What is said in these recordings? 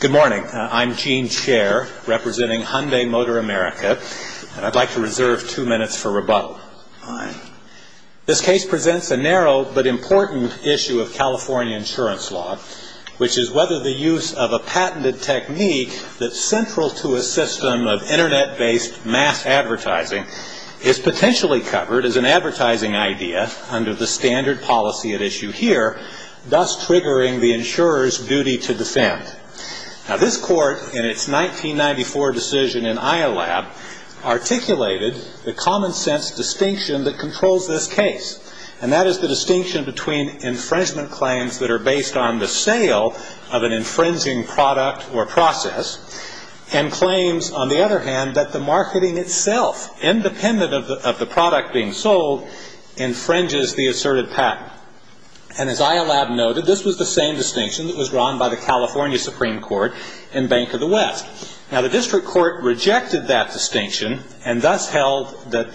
Good morning. I'm Gene Scher, representing Hyundai Motor America, and I'd like to reserve two minutes for rebuttal. This case presents a narrow but important issue of California insurance law, which is whether the use of a patented technique that's central to a system of Internet-based mass advertising is potentially covered as an advertising idea under the standard policy at issue here, thus triggering the insurer's duty to defend. This court, in its 1994 decision in IOLAB, articulated the common-sense distinction that controls this case, and that is the distinction between infringement claims that are based on the sale of an infringing product or process, and claims, on the other hand, that the marketing itself, independent of the product being sold, infringes the asserted patent. And as IOLAB noted, this was the same distinction that was drawn by the California Supreme Court and Bank of the West. Now, the district court rejected that distinction and thus held that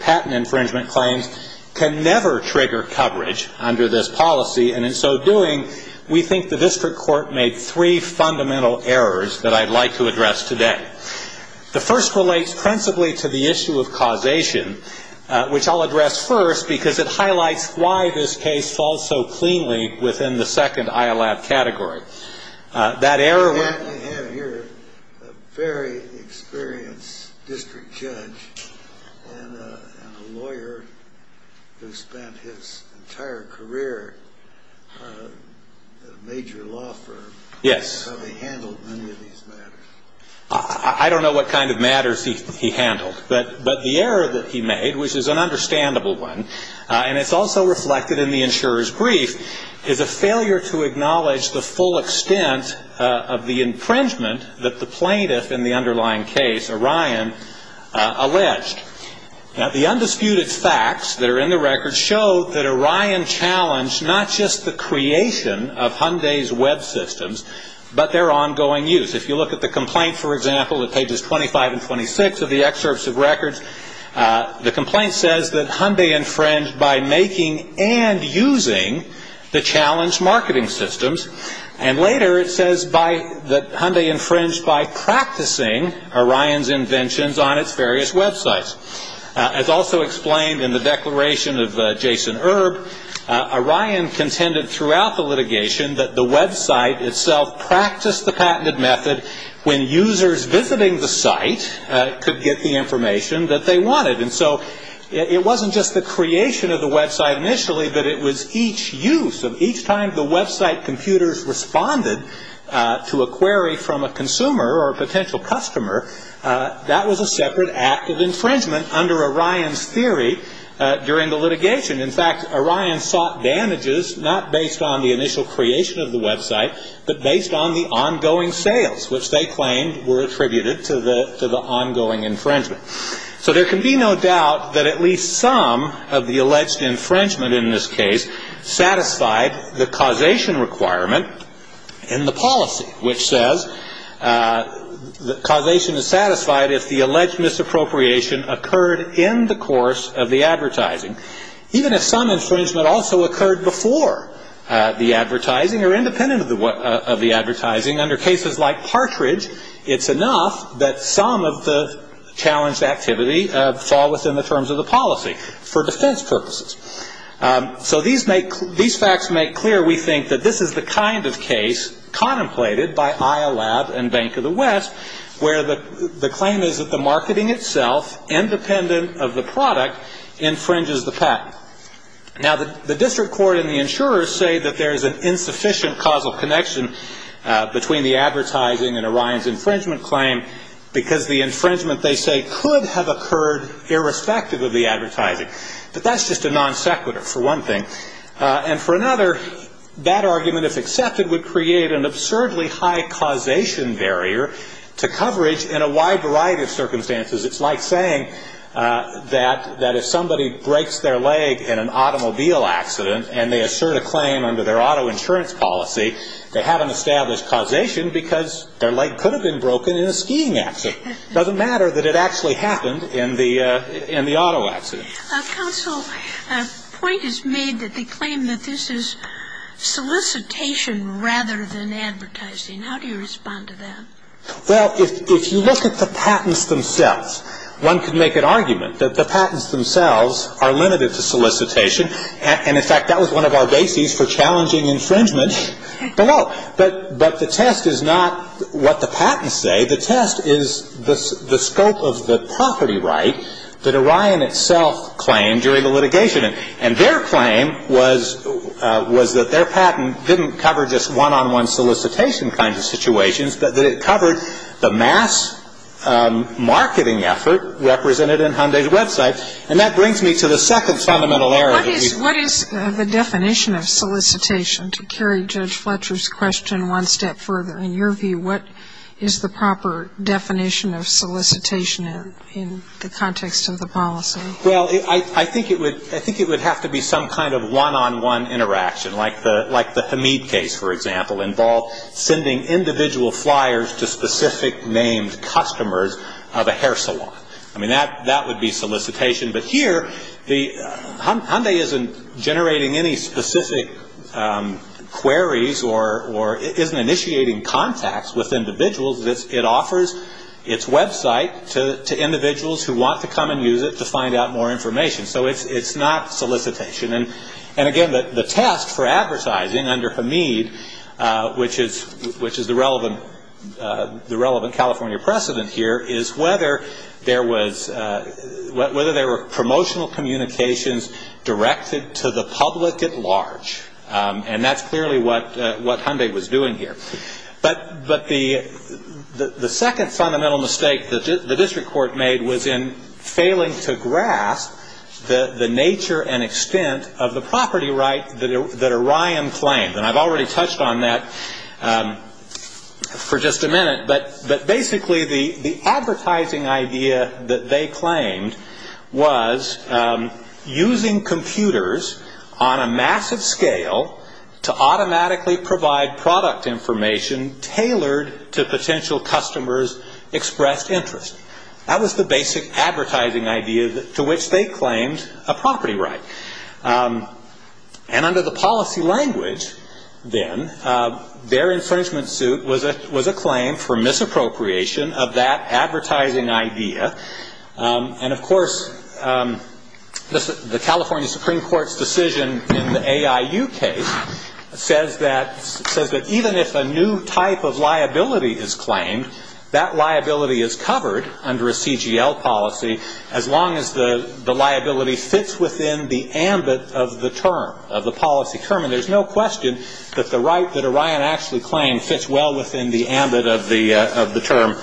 patent infringement claims can never trigger coverage under this policy, and in so doing, we think the district court made three fundamental errors that I'd like to address today. The first relates principally to the issue of causation, which I'll address first, because it highlights why this case falls so cleanly within the second IOLAB category. That error was... Yes. I don't know what kind of matters he handled, but the error that he made, which is an understandable one, and it's also reflected in the insurer's brief, is a failure to acknowledge the full extent of the infringement that the plaintiff in the underlying case, Orion, alleged. Now, the undisputed facts that are in the record show that Orion challenged not just the creation of Hyundai's web systems, but their ongoing use. If you look at the complaint, for example, at pages 25 and 26 of the excerpts of records, the complaint says that Hyundai infringed by making and using the challenged marketing systems, and later it says that Hyundai infringed by practicing Orion's inventions on its various websites. As also explained in the declaration of Jason Erb, Orion contended throughout the litigation that the website itself practiced the patented method when users visiting the site could get the information that they wanted. And so it wasn't just the creation of the website initially, but it was each use of each time the website computers responded to a query from a consumer or potential customer, that was a separate act of infringement under Orion's theory during the litigation. In fact, Orion sought damages not based on the initial creation of the website, but based on the ongoing sales, which they claimed were attributed to the ongoing infringement. So there can be no doubt that at least some of the alleged infringement in this case satisfied the causation requirement in the policy, which says causation is satisfied if the alleged misappropriation occurred in the course of the advertising. Even if some infringement also occurred before the advertising or independent of the advertising, under cases like Partridge, it's enough that some of the challenged activity fall within the terms of the policy for defense purposes. So these facts make clear, we think, that this is the kind of case contemplated by IOLAB and Bank of the West, where the claim is that the marketing itself, independent of the product, infringes the patent. Now, the district court and the insurers say that there is an insufficient causal connection between the advertising and Orion's infringement claim, because the infringement, they say, could have occurred irrespective of the advertising. But that's just a non-sequitur, for one thing. And for another, that argument, if accepted, would create an absurdly high causation barrier to coverage in a wide variety of circumstances. It's like saying that if somebody breaks their leg in an automobile accident and they assert a claim under their auto insurance policy, they have an established causation because their leg could have been broken in a skiing accident. Doesn't matter that it actually happened in the auto accident. Counsel, a point is made that they claim that this is solicitation rather than advertising. How do you respond to that? Well, if you look at the patents themselves, one could make an argument that the patents themselves are limited to solicitation. And, in fact, that was one of our bases for challenging infringement below. But the test is not what the patents say. The test is the scope of the property right that Orion itself claimed during the litigation. And their claim was that their patent didn't cover just one-on-one solicitation kinds of situations, but that it covered the mass marketing effort represented in Hyundai's website. And that brings me to the second fundamental error. What is the definition of solicitation to carry Judge Fletcher's question one step further? In your view, what is the proper definition of solicitation in the context of the policy? Well, I think it would have to be some kind of one-on-one interaction like the Hamid case, for example, involved sending individual flyers to specific named customers of a hair salon. I mean, that would be solicitation. But here, Hyundai isn't generating any specific queries or isn't initiating contacts with individuals. It offers its website to individuals who want to come and use it to find out more information. So it's not solicitation. And, again, the test for advertising under Hamid, which is the relevant California precedent here, is whether there were promotional communications directed to the public at large. And that's clearly what Hyundai was doing here. But the second fundamental mistake the district court made was in failing to grasp the nature and extent of the property right that Orion claimed. And I've already touched on that for just a minute, but basically the advertising idea that they claimed was using computers on a massive scale to automatically provide product information tailored to potential customers' expressed interest. That was the basic advertising idea to which they claimed a property right. And under the policy language, then, their infringement suit was a claim for misappropriation of that advertising idea. And, of course, the California Supreme Court's decision in the AIU case says that even if a new type of liability is claimed, that liability is covered under a CGL policy as long as the liability fits within the ambit of the term, of the policy term. And there's no question that the right that Orion actually claimed fits well within the ambit of the term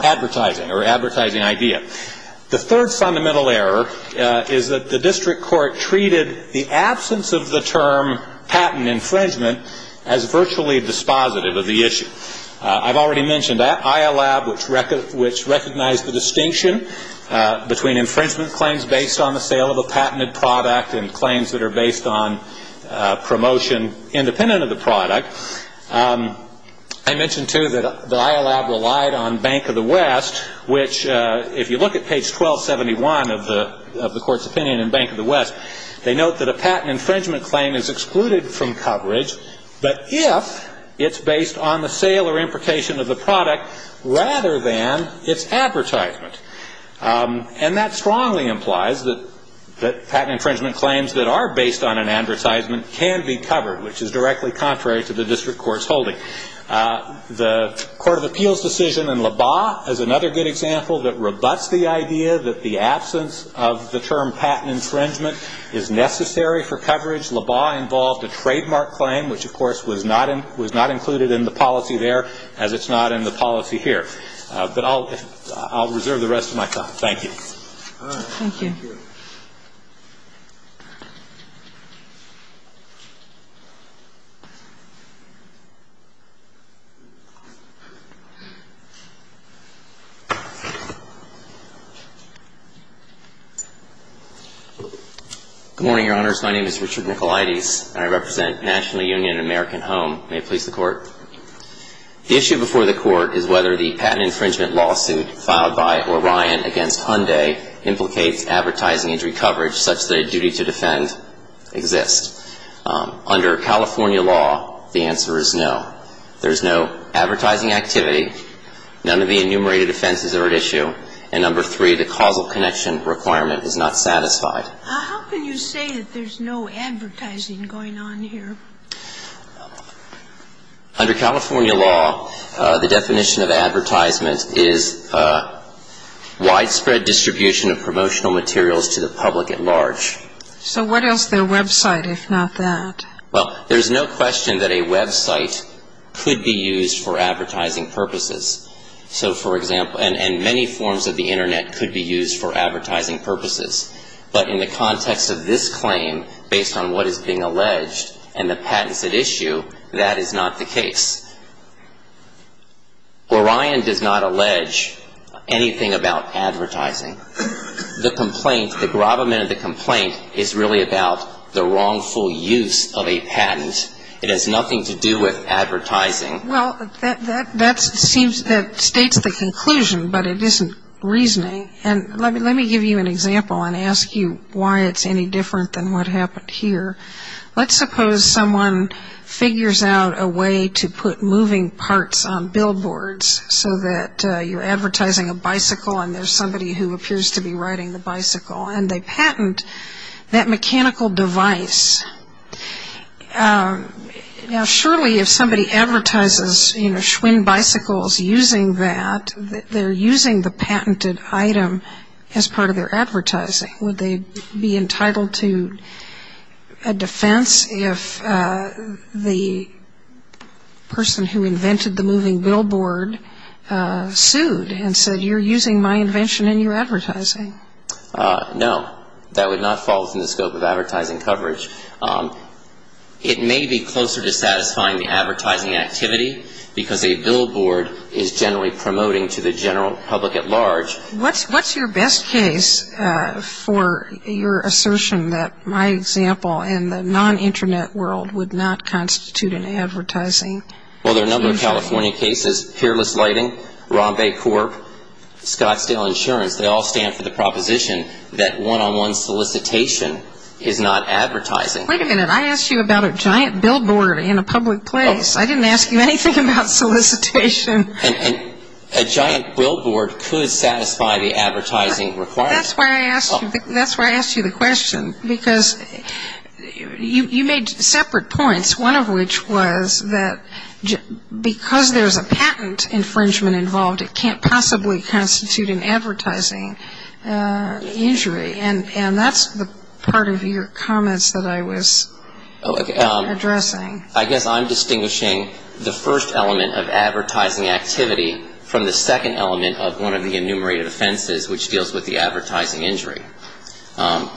advertising or advertising idea. The third fundamental error is that the district court treated the absence of the term patent infringement as virtually dispositive of the issue. I've already mentioned IALAB, which recognized the distinction between infringement claims based on the sale of a patented product and claims that are based on promotion independent of the product. I mentioned, too, that IALAB relied on Bank of the West, which, if you look at page 1271 of the court's opinion in But if it's based on the sale or imprecation of the product rather than its advertisement. And that strongly implies that patent infringement claims that are based on an advertisement can be covered, which is directly contrary to the district court's holding. The Court of Appeals decision in LABA is another good example that rebuts the idea that the was not included in the policy there as it's not in the policy here. But I'll reserve the rest of my time. Thank you. Thank you. Good morning, Your Honors. My name is Richard Nicolaides, and I represent National Union American Home. May it please the Court. The issue before the Court is whether the patent infringement lawsuit filed by Orion against Hyundai implicates advertising of a product that is not a patent infringement. The answer is no. There is no advertising activity. None of the enumerated offenses are at issue. And number three, the causal connection requirement is not satisfied. How can you say that there's no advertising going on here? Under California law, the definition of advertisement is widespread distribution of promotional material to the public at large. Well, there's no question that a website could be used for advertising purposes. And many forms of the Internet could be used for advertising purposes. But in the context of this claim, based on what is being alleged and the patents at issue, that is not the case. Orion does not allege anything about advertising. The complaint, the gravamen of the complaint, is really about the wrongful use of a patent. It has nothing to do with advertising. Well, that states the conclusion, but it isn't reasoning. And let me give you an example and ask you why it's any different than what happened here. Let's suppose someone figures out a way to put moving parts on billboards so that you're advertising a bicycle and there's somebody who appears to be riding the bicycle, and they patent that mechanical device. Now, surely if somebody advertises, you know, Schwinn bicycles using that, they're using the patented item as part of their advertising. Would they be entitled to a defense if the person who invented the moving billboard sued and said, you're using my invention in your advertising? No, that would not fall within the scope of advertising coverage. It may be closer to satisfying the advertising activity because a billboard is generally promoting to the general public at large. What's your best case for your assertion that my example in the non-Internet world would not constitute an advertising? Well, there are a number of California cases. Peerless Lighting, Rambe Corp., Scottsdale Insurance, they all stand for the proposition that one-on-one solicitation is not advertising. Wait a minute, I asked you about a giant billboard in a public place. I didn't ask you anything about solicitation. And a giant billboard could satisfy the advertising requirement. That's why I asked you the question, because you made separate points, one of which was that because there's a patent infringement involved, it can't possibly constitute an advertising injury. And that's part of your comments that I was addressing. I guess I'm distinguishing the first element of advertising activity from the second element of one of the enumerated offenses, which deals with the advertising injury.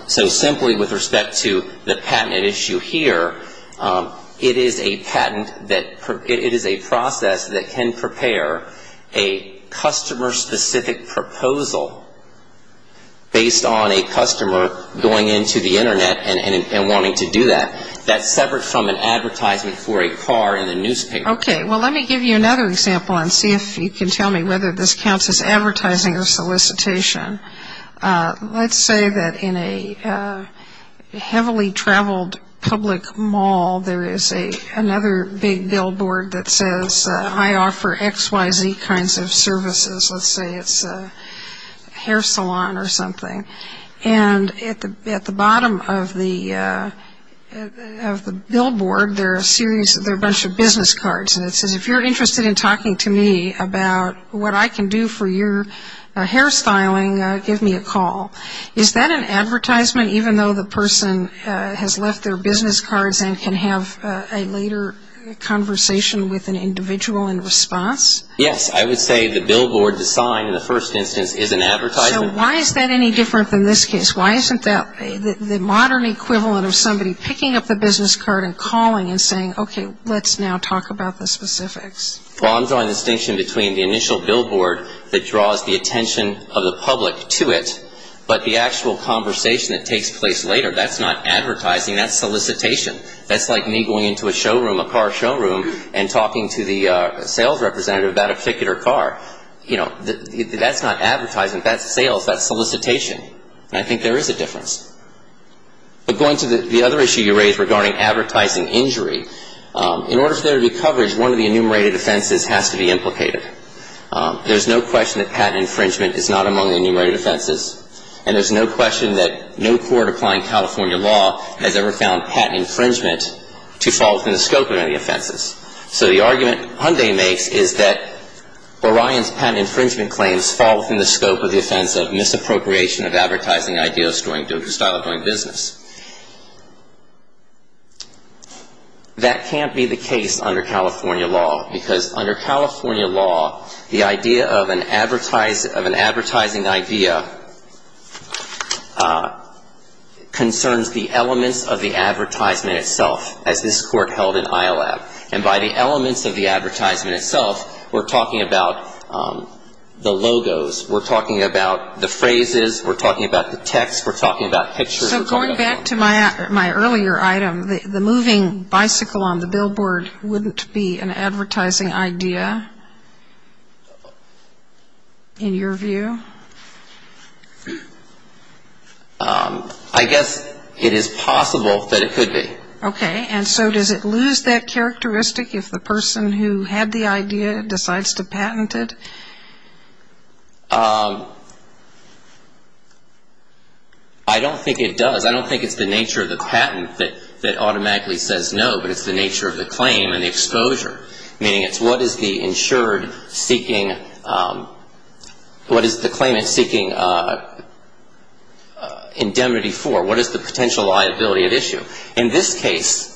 So simply with respect to the patent issue here, it is a patent that it is a process that can prepare a customer-specific proposal based on a customer going into the Internet and wanting to do that. That's separate from an advertisement for a car in the newspaper. Okay, well, let me give you another example and see if you can tell me whether this counts as advertising or solicitation. Let's say that in a heavily traveled public mall, there is another big billboard that says, I offer X, Y, Z kinds of services. Let's say it's a hair salon or something. And at the bottom of the billboard, there are a bunch of business cards. And it says, if you're interested in talking to me about what I can do for your hair styling, give me a call. Is that an advertisement, even though the person has left their business cards and can have a later conversation with an individual in response? Yes, I would say the billboard to sign in the first instance is an advertisement. So why is that any different than this case? Why isn't that the modern equivalent of somebody picking up the business card and calling and saying, okay, let's now talk about the specifics? Well, I'm drawing a distinction between the initial billboard that draws the attention of the public to it, but the actual conversation that takes place later. That's not advertising, that's solicitation. That's like me going into a showroom, a car showroom, and talking to the sales representative about a particular car. You know, that's not advertising, that's sales, that's solicitation. And I think there is a difference. But going to the other issue you raised regarding advertising injury, in order for there to be coverage, one of the enumerated offenses has to be implicated. There's no question that patent infringement is not among the enumerated offenses. And there's no question that no court applying California law has ever found patent infringement to fall within the scope of any of the offenses. So the argument Hyundai makes is that Orion's patent infringement claims fall within the scope of the offense of misappropriation of advertising ideas, doing business. That can't be the case under California law, because under California law, the idea of an advertising idea concerns the elements of the advertisement itself, as this court held in IOLAB. And by the elements of the advertisement itself, we're talking about the logos, we're talking about the phrases, we're talking about the text, we're talking about pictures, we're talking about images. So going back to my earlier item, the moving bicycle on the billboard wouldn't be an advertising idea in your view? I guess it is possible that it could be. Okay. And so does it lose that characteristic if the person who had the idea decides to patent it? I don't think it does. I don't think it's the nature of the patent that automatically says no, but it's the nature of the claim and the exposure, meaning it's what is the insured seeking, what is the claimant seeking indemnity for, what is the potential liability at issue. In this case,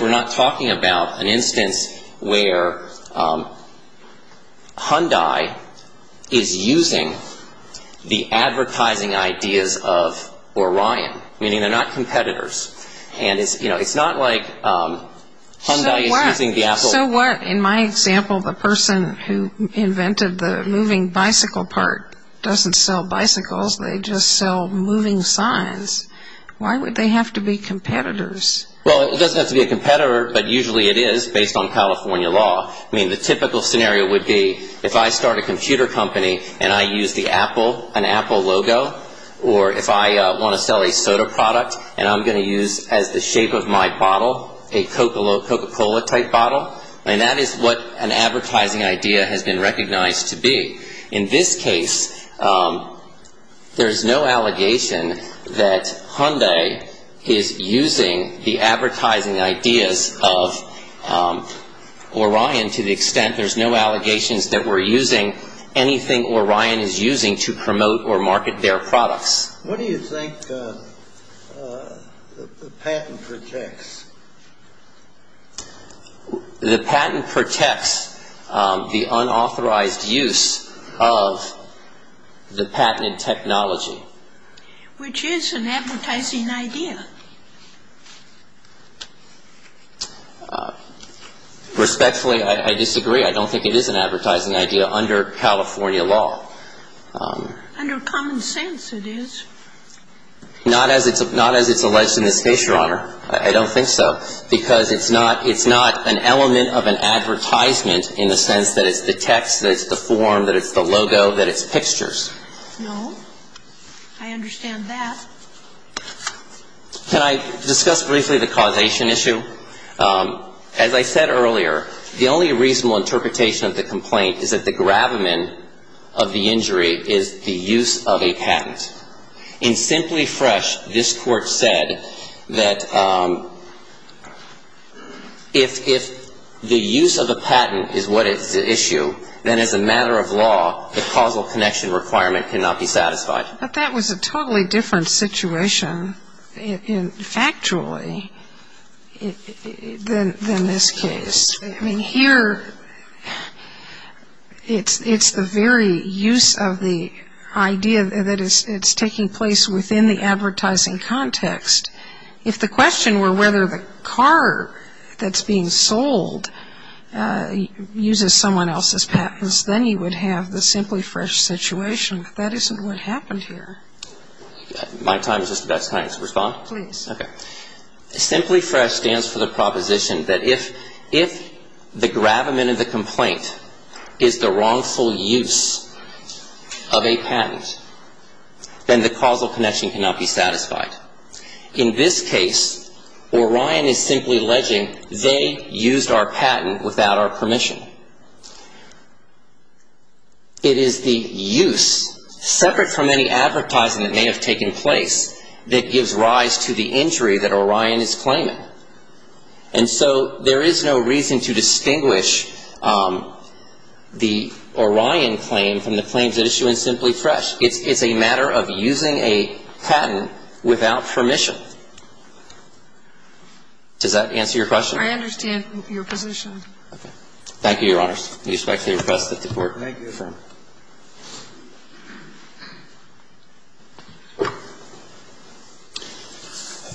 we're not talking about an instance where Hyundai has a patent infringement claim. Hyundai is using the advertising ideas of Orion, meaning they're not competitors, and it's not like Hyundai is using the Apple. So in my example, the person who invented the moving bicycle part doesn't sell bicycles, they just sell moving signs. Why would they have to be competitors? Well, it doesn't have to be a competitor, but usually it is, based on California law. So if I'm going to sell a company and I use the Apple, an Apple logo, or if I want to sell a soda product and I'm going to use as the shape of my bottle a Coca-Cola type bottle, and that is what an advertising idea has been recognized to be. In this case, there's no allegation that Hyundai is using the advertising ideas of Orion to the extent there's no allegations that we're using anything else. There's no allegation that Hyundai is using the advertising ideas of Orion to the extent there's no allegations that we're using anything else. What do you think the patent protects? The patent protects the unauthorized use of the patented technology. Which is an advertising idea. Respectfully, I disagree. I don't think it is an advertising idea under California law. Under common sense it is. Not as it's alleged in this case, Your Honor. I don't think so. Because it's not an element of an advertisement in the sense that it's the text, that it's the form, that it's the logo, that it's pictures. No. I understand that. Can I discuss briefly the causation issue? As I said earlier, the only reasonable interpretation of the complaint is that the gravamen of the injury is the use of a patent. In Simply Fresh, this court said that if the use of a patent is what is at issue, then as a matter of law, the causal connection requirement cannot be satisfied. But that was a totally different situation, factually, than this case. I mean, here, it's the very use of the idea that it's taking place within the advertising context. If the question were whether the car that's being sold uses someone else's patents, then you would have the Simply Fresh situation. But that isn't what happened here. My time is just about time to respond. Please. Okay. Simply Fresh stands for the proposition that if the gravamen of the complaint is the wrongful use of a patent, then the causal connection cannot be satisfied. In this case, Orion is simply alleging they used our patent without our permission. It is the use, separate from any advertising that may have taken place, that gives rise to the injury that Orion is claiming. And so there is no reason to distinguish the Orion claim from the claims at issue in Simply Fresh. It's a matter of using a patent without permission. Does that answer your question? I understand your position. Okay. Thank you, Your Honors. We respectfully request that the Court confirm. Thank you.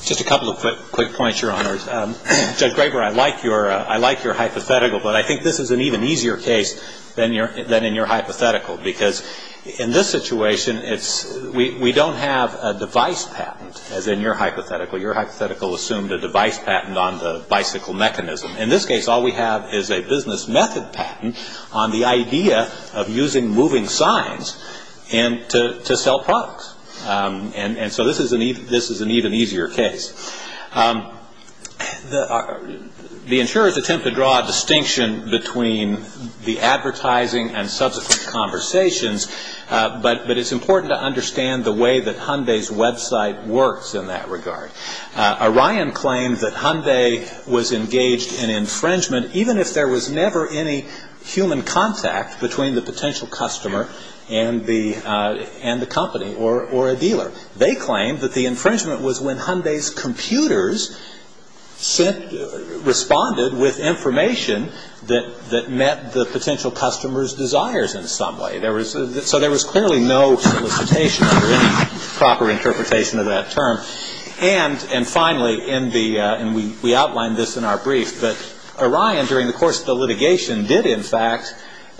Just a couple of quick points, Your Honors. Judge Graber, I like your hypothetical, but I think this is an even easier case than in your hypothetical. Because in this situation, we don't have a device patent, as in your hypothetical. Your hypothetical assumed a device patent on the bicycle mechanism. In this case, all we have is a business method patent on the idea of using moving signs to sell products. And so this is an even easier case. The insurers attempt to draw a distinction between the advertising and subsequent conversations, but it's important to understand the way that Hyundai's website works in that regard. Orion claimed that Hyundai was engaged in infringement, even if there was never any human contact between the potential customer and the company or a dealer. They claimed that the infringement was when Hyundai's computers responded with information that met the potential customer's desires in some way. So there was clearly no solicitation under any proper interpretation of that term. And finally, we outlined this in our brief, but Orion during the course of the litigation did in fact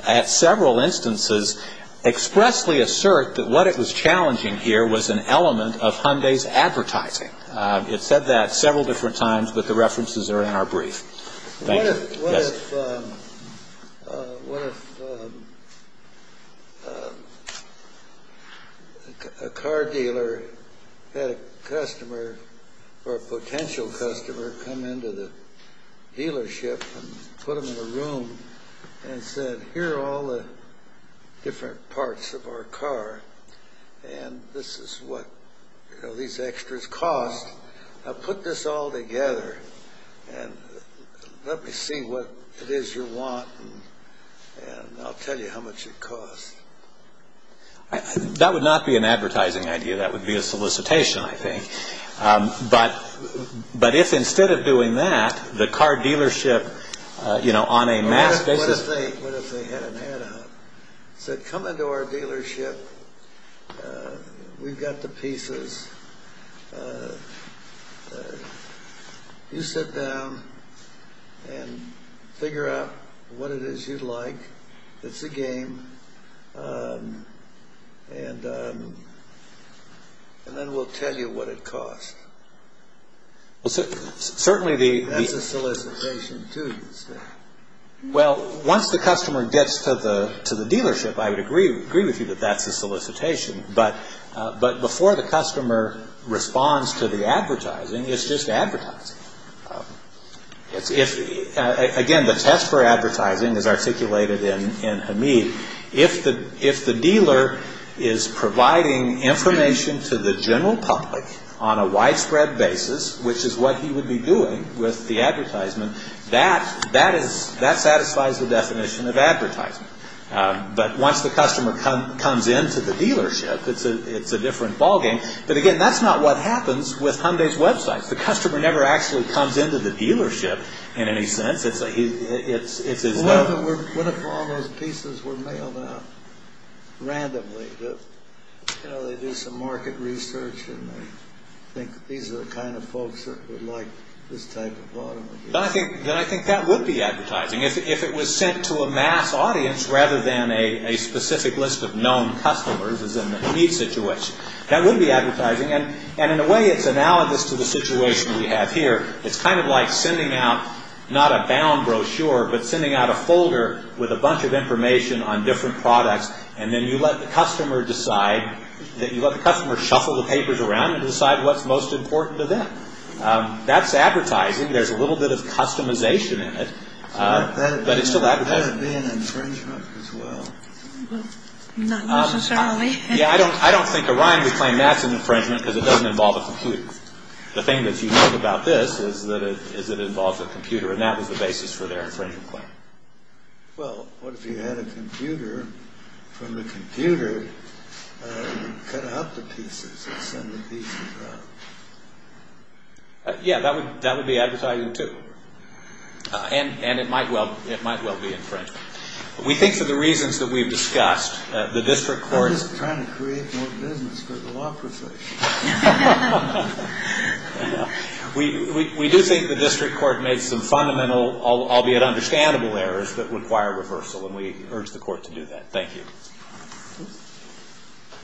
at several instances expressly assert that what it was challenging here was an element of Hyundai's advertising. It said that several different times, but the references are in our brief. What if a car dealer had a customer or a potential customer come into the dealership and put them in a room and said, here are all the different parts of our car, and this is what these extras cost. Now put this all together and let me see what it is you want, and I'll tell you how much it costs. That would not be an advertising idea. That would be a solicitation, I think. But if instead of doing that, the car dealership on a mass basis... What if they had an add-on? Come into our dealership. We've got the pieces. You sit down and figure out what it is you'd like. It's a game, and then we'll tell you what it costs. That's a solicitation too, you'd say. Once the customer gets to the dealership, I would agree with you that that's a solicitation, but before the customer responds to the advertising, it's just advertising. Again, the test for advertising is articulated in Hamid. If the dealer is providing information to the general public on a widespread basis, which is what he would be doing with the advertisement, that satisfies the definition of advertising. But once the customer comes into the dealership, it's a different ballgame. But again, that's not what happens with Hamid's websites. The customer never actually comes into the dealership in any sense. What if all those pieces were mailed out randomly? They do some market research, and they think these are the kind of folks that would like this type of product. Then I think that would be advertising. If it was sent to a mass audience rather than a specific list of known customers, as in the Hamid situation, that would be advertising. In a way, it's analogous to the situation we have here. It's kind of like sending out not a bound brochure, but sending out a folder with a bunch of information on different products, and then you let the customer decide. You let the customer shuffle the papers around and decide what's most important to them. That's advertising. There's a little bit of customization in it, but it's still advertising. Would that be an infringement as well? Not necessarily. Yeah, I don't think Orion would claim that's an infringement because it doesn't involve a computer. The thing that's unique about this is that it involves a computer, and that was the basis for their infringement claim. Well, what if you had a computer, from the computer cut out the pieces and send the pieces out? Yeah, that would be advertising too, and it might well be infringement. We think for the reasons that we've discussed, the district court... I'm just trying to create more business for the law profession. We do think the district court made some fundamental, albeit understandable errors that require reversal, and we urge the court to do that. Thank you.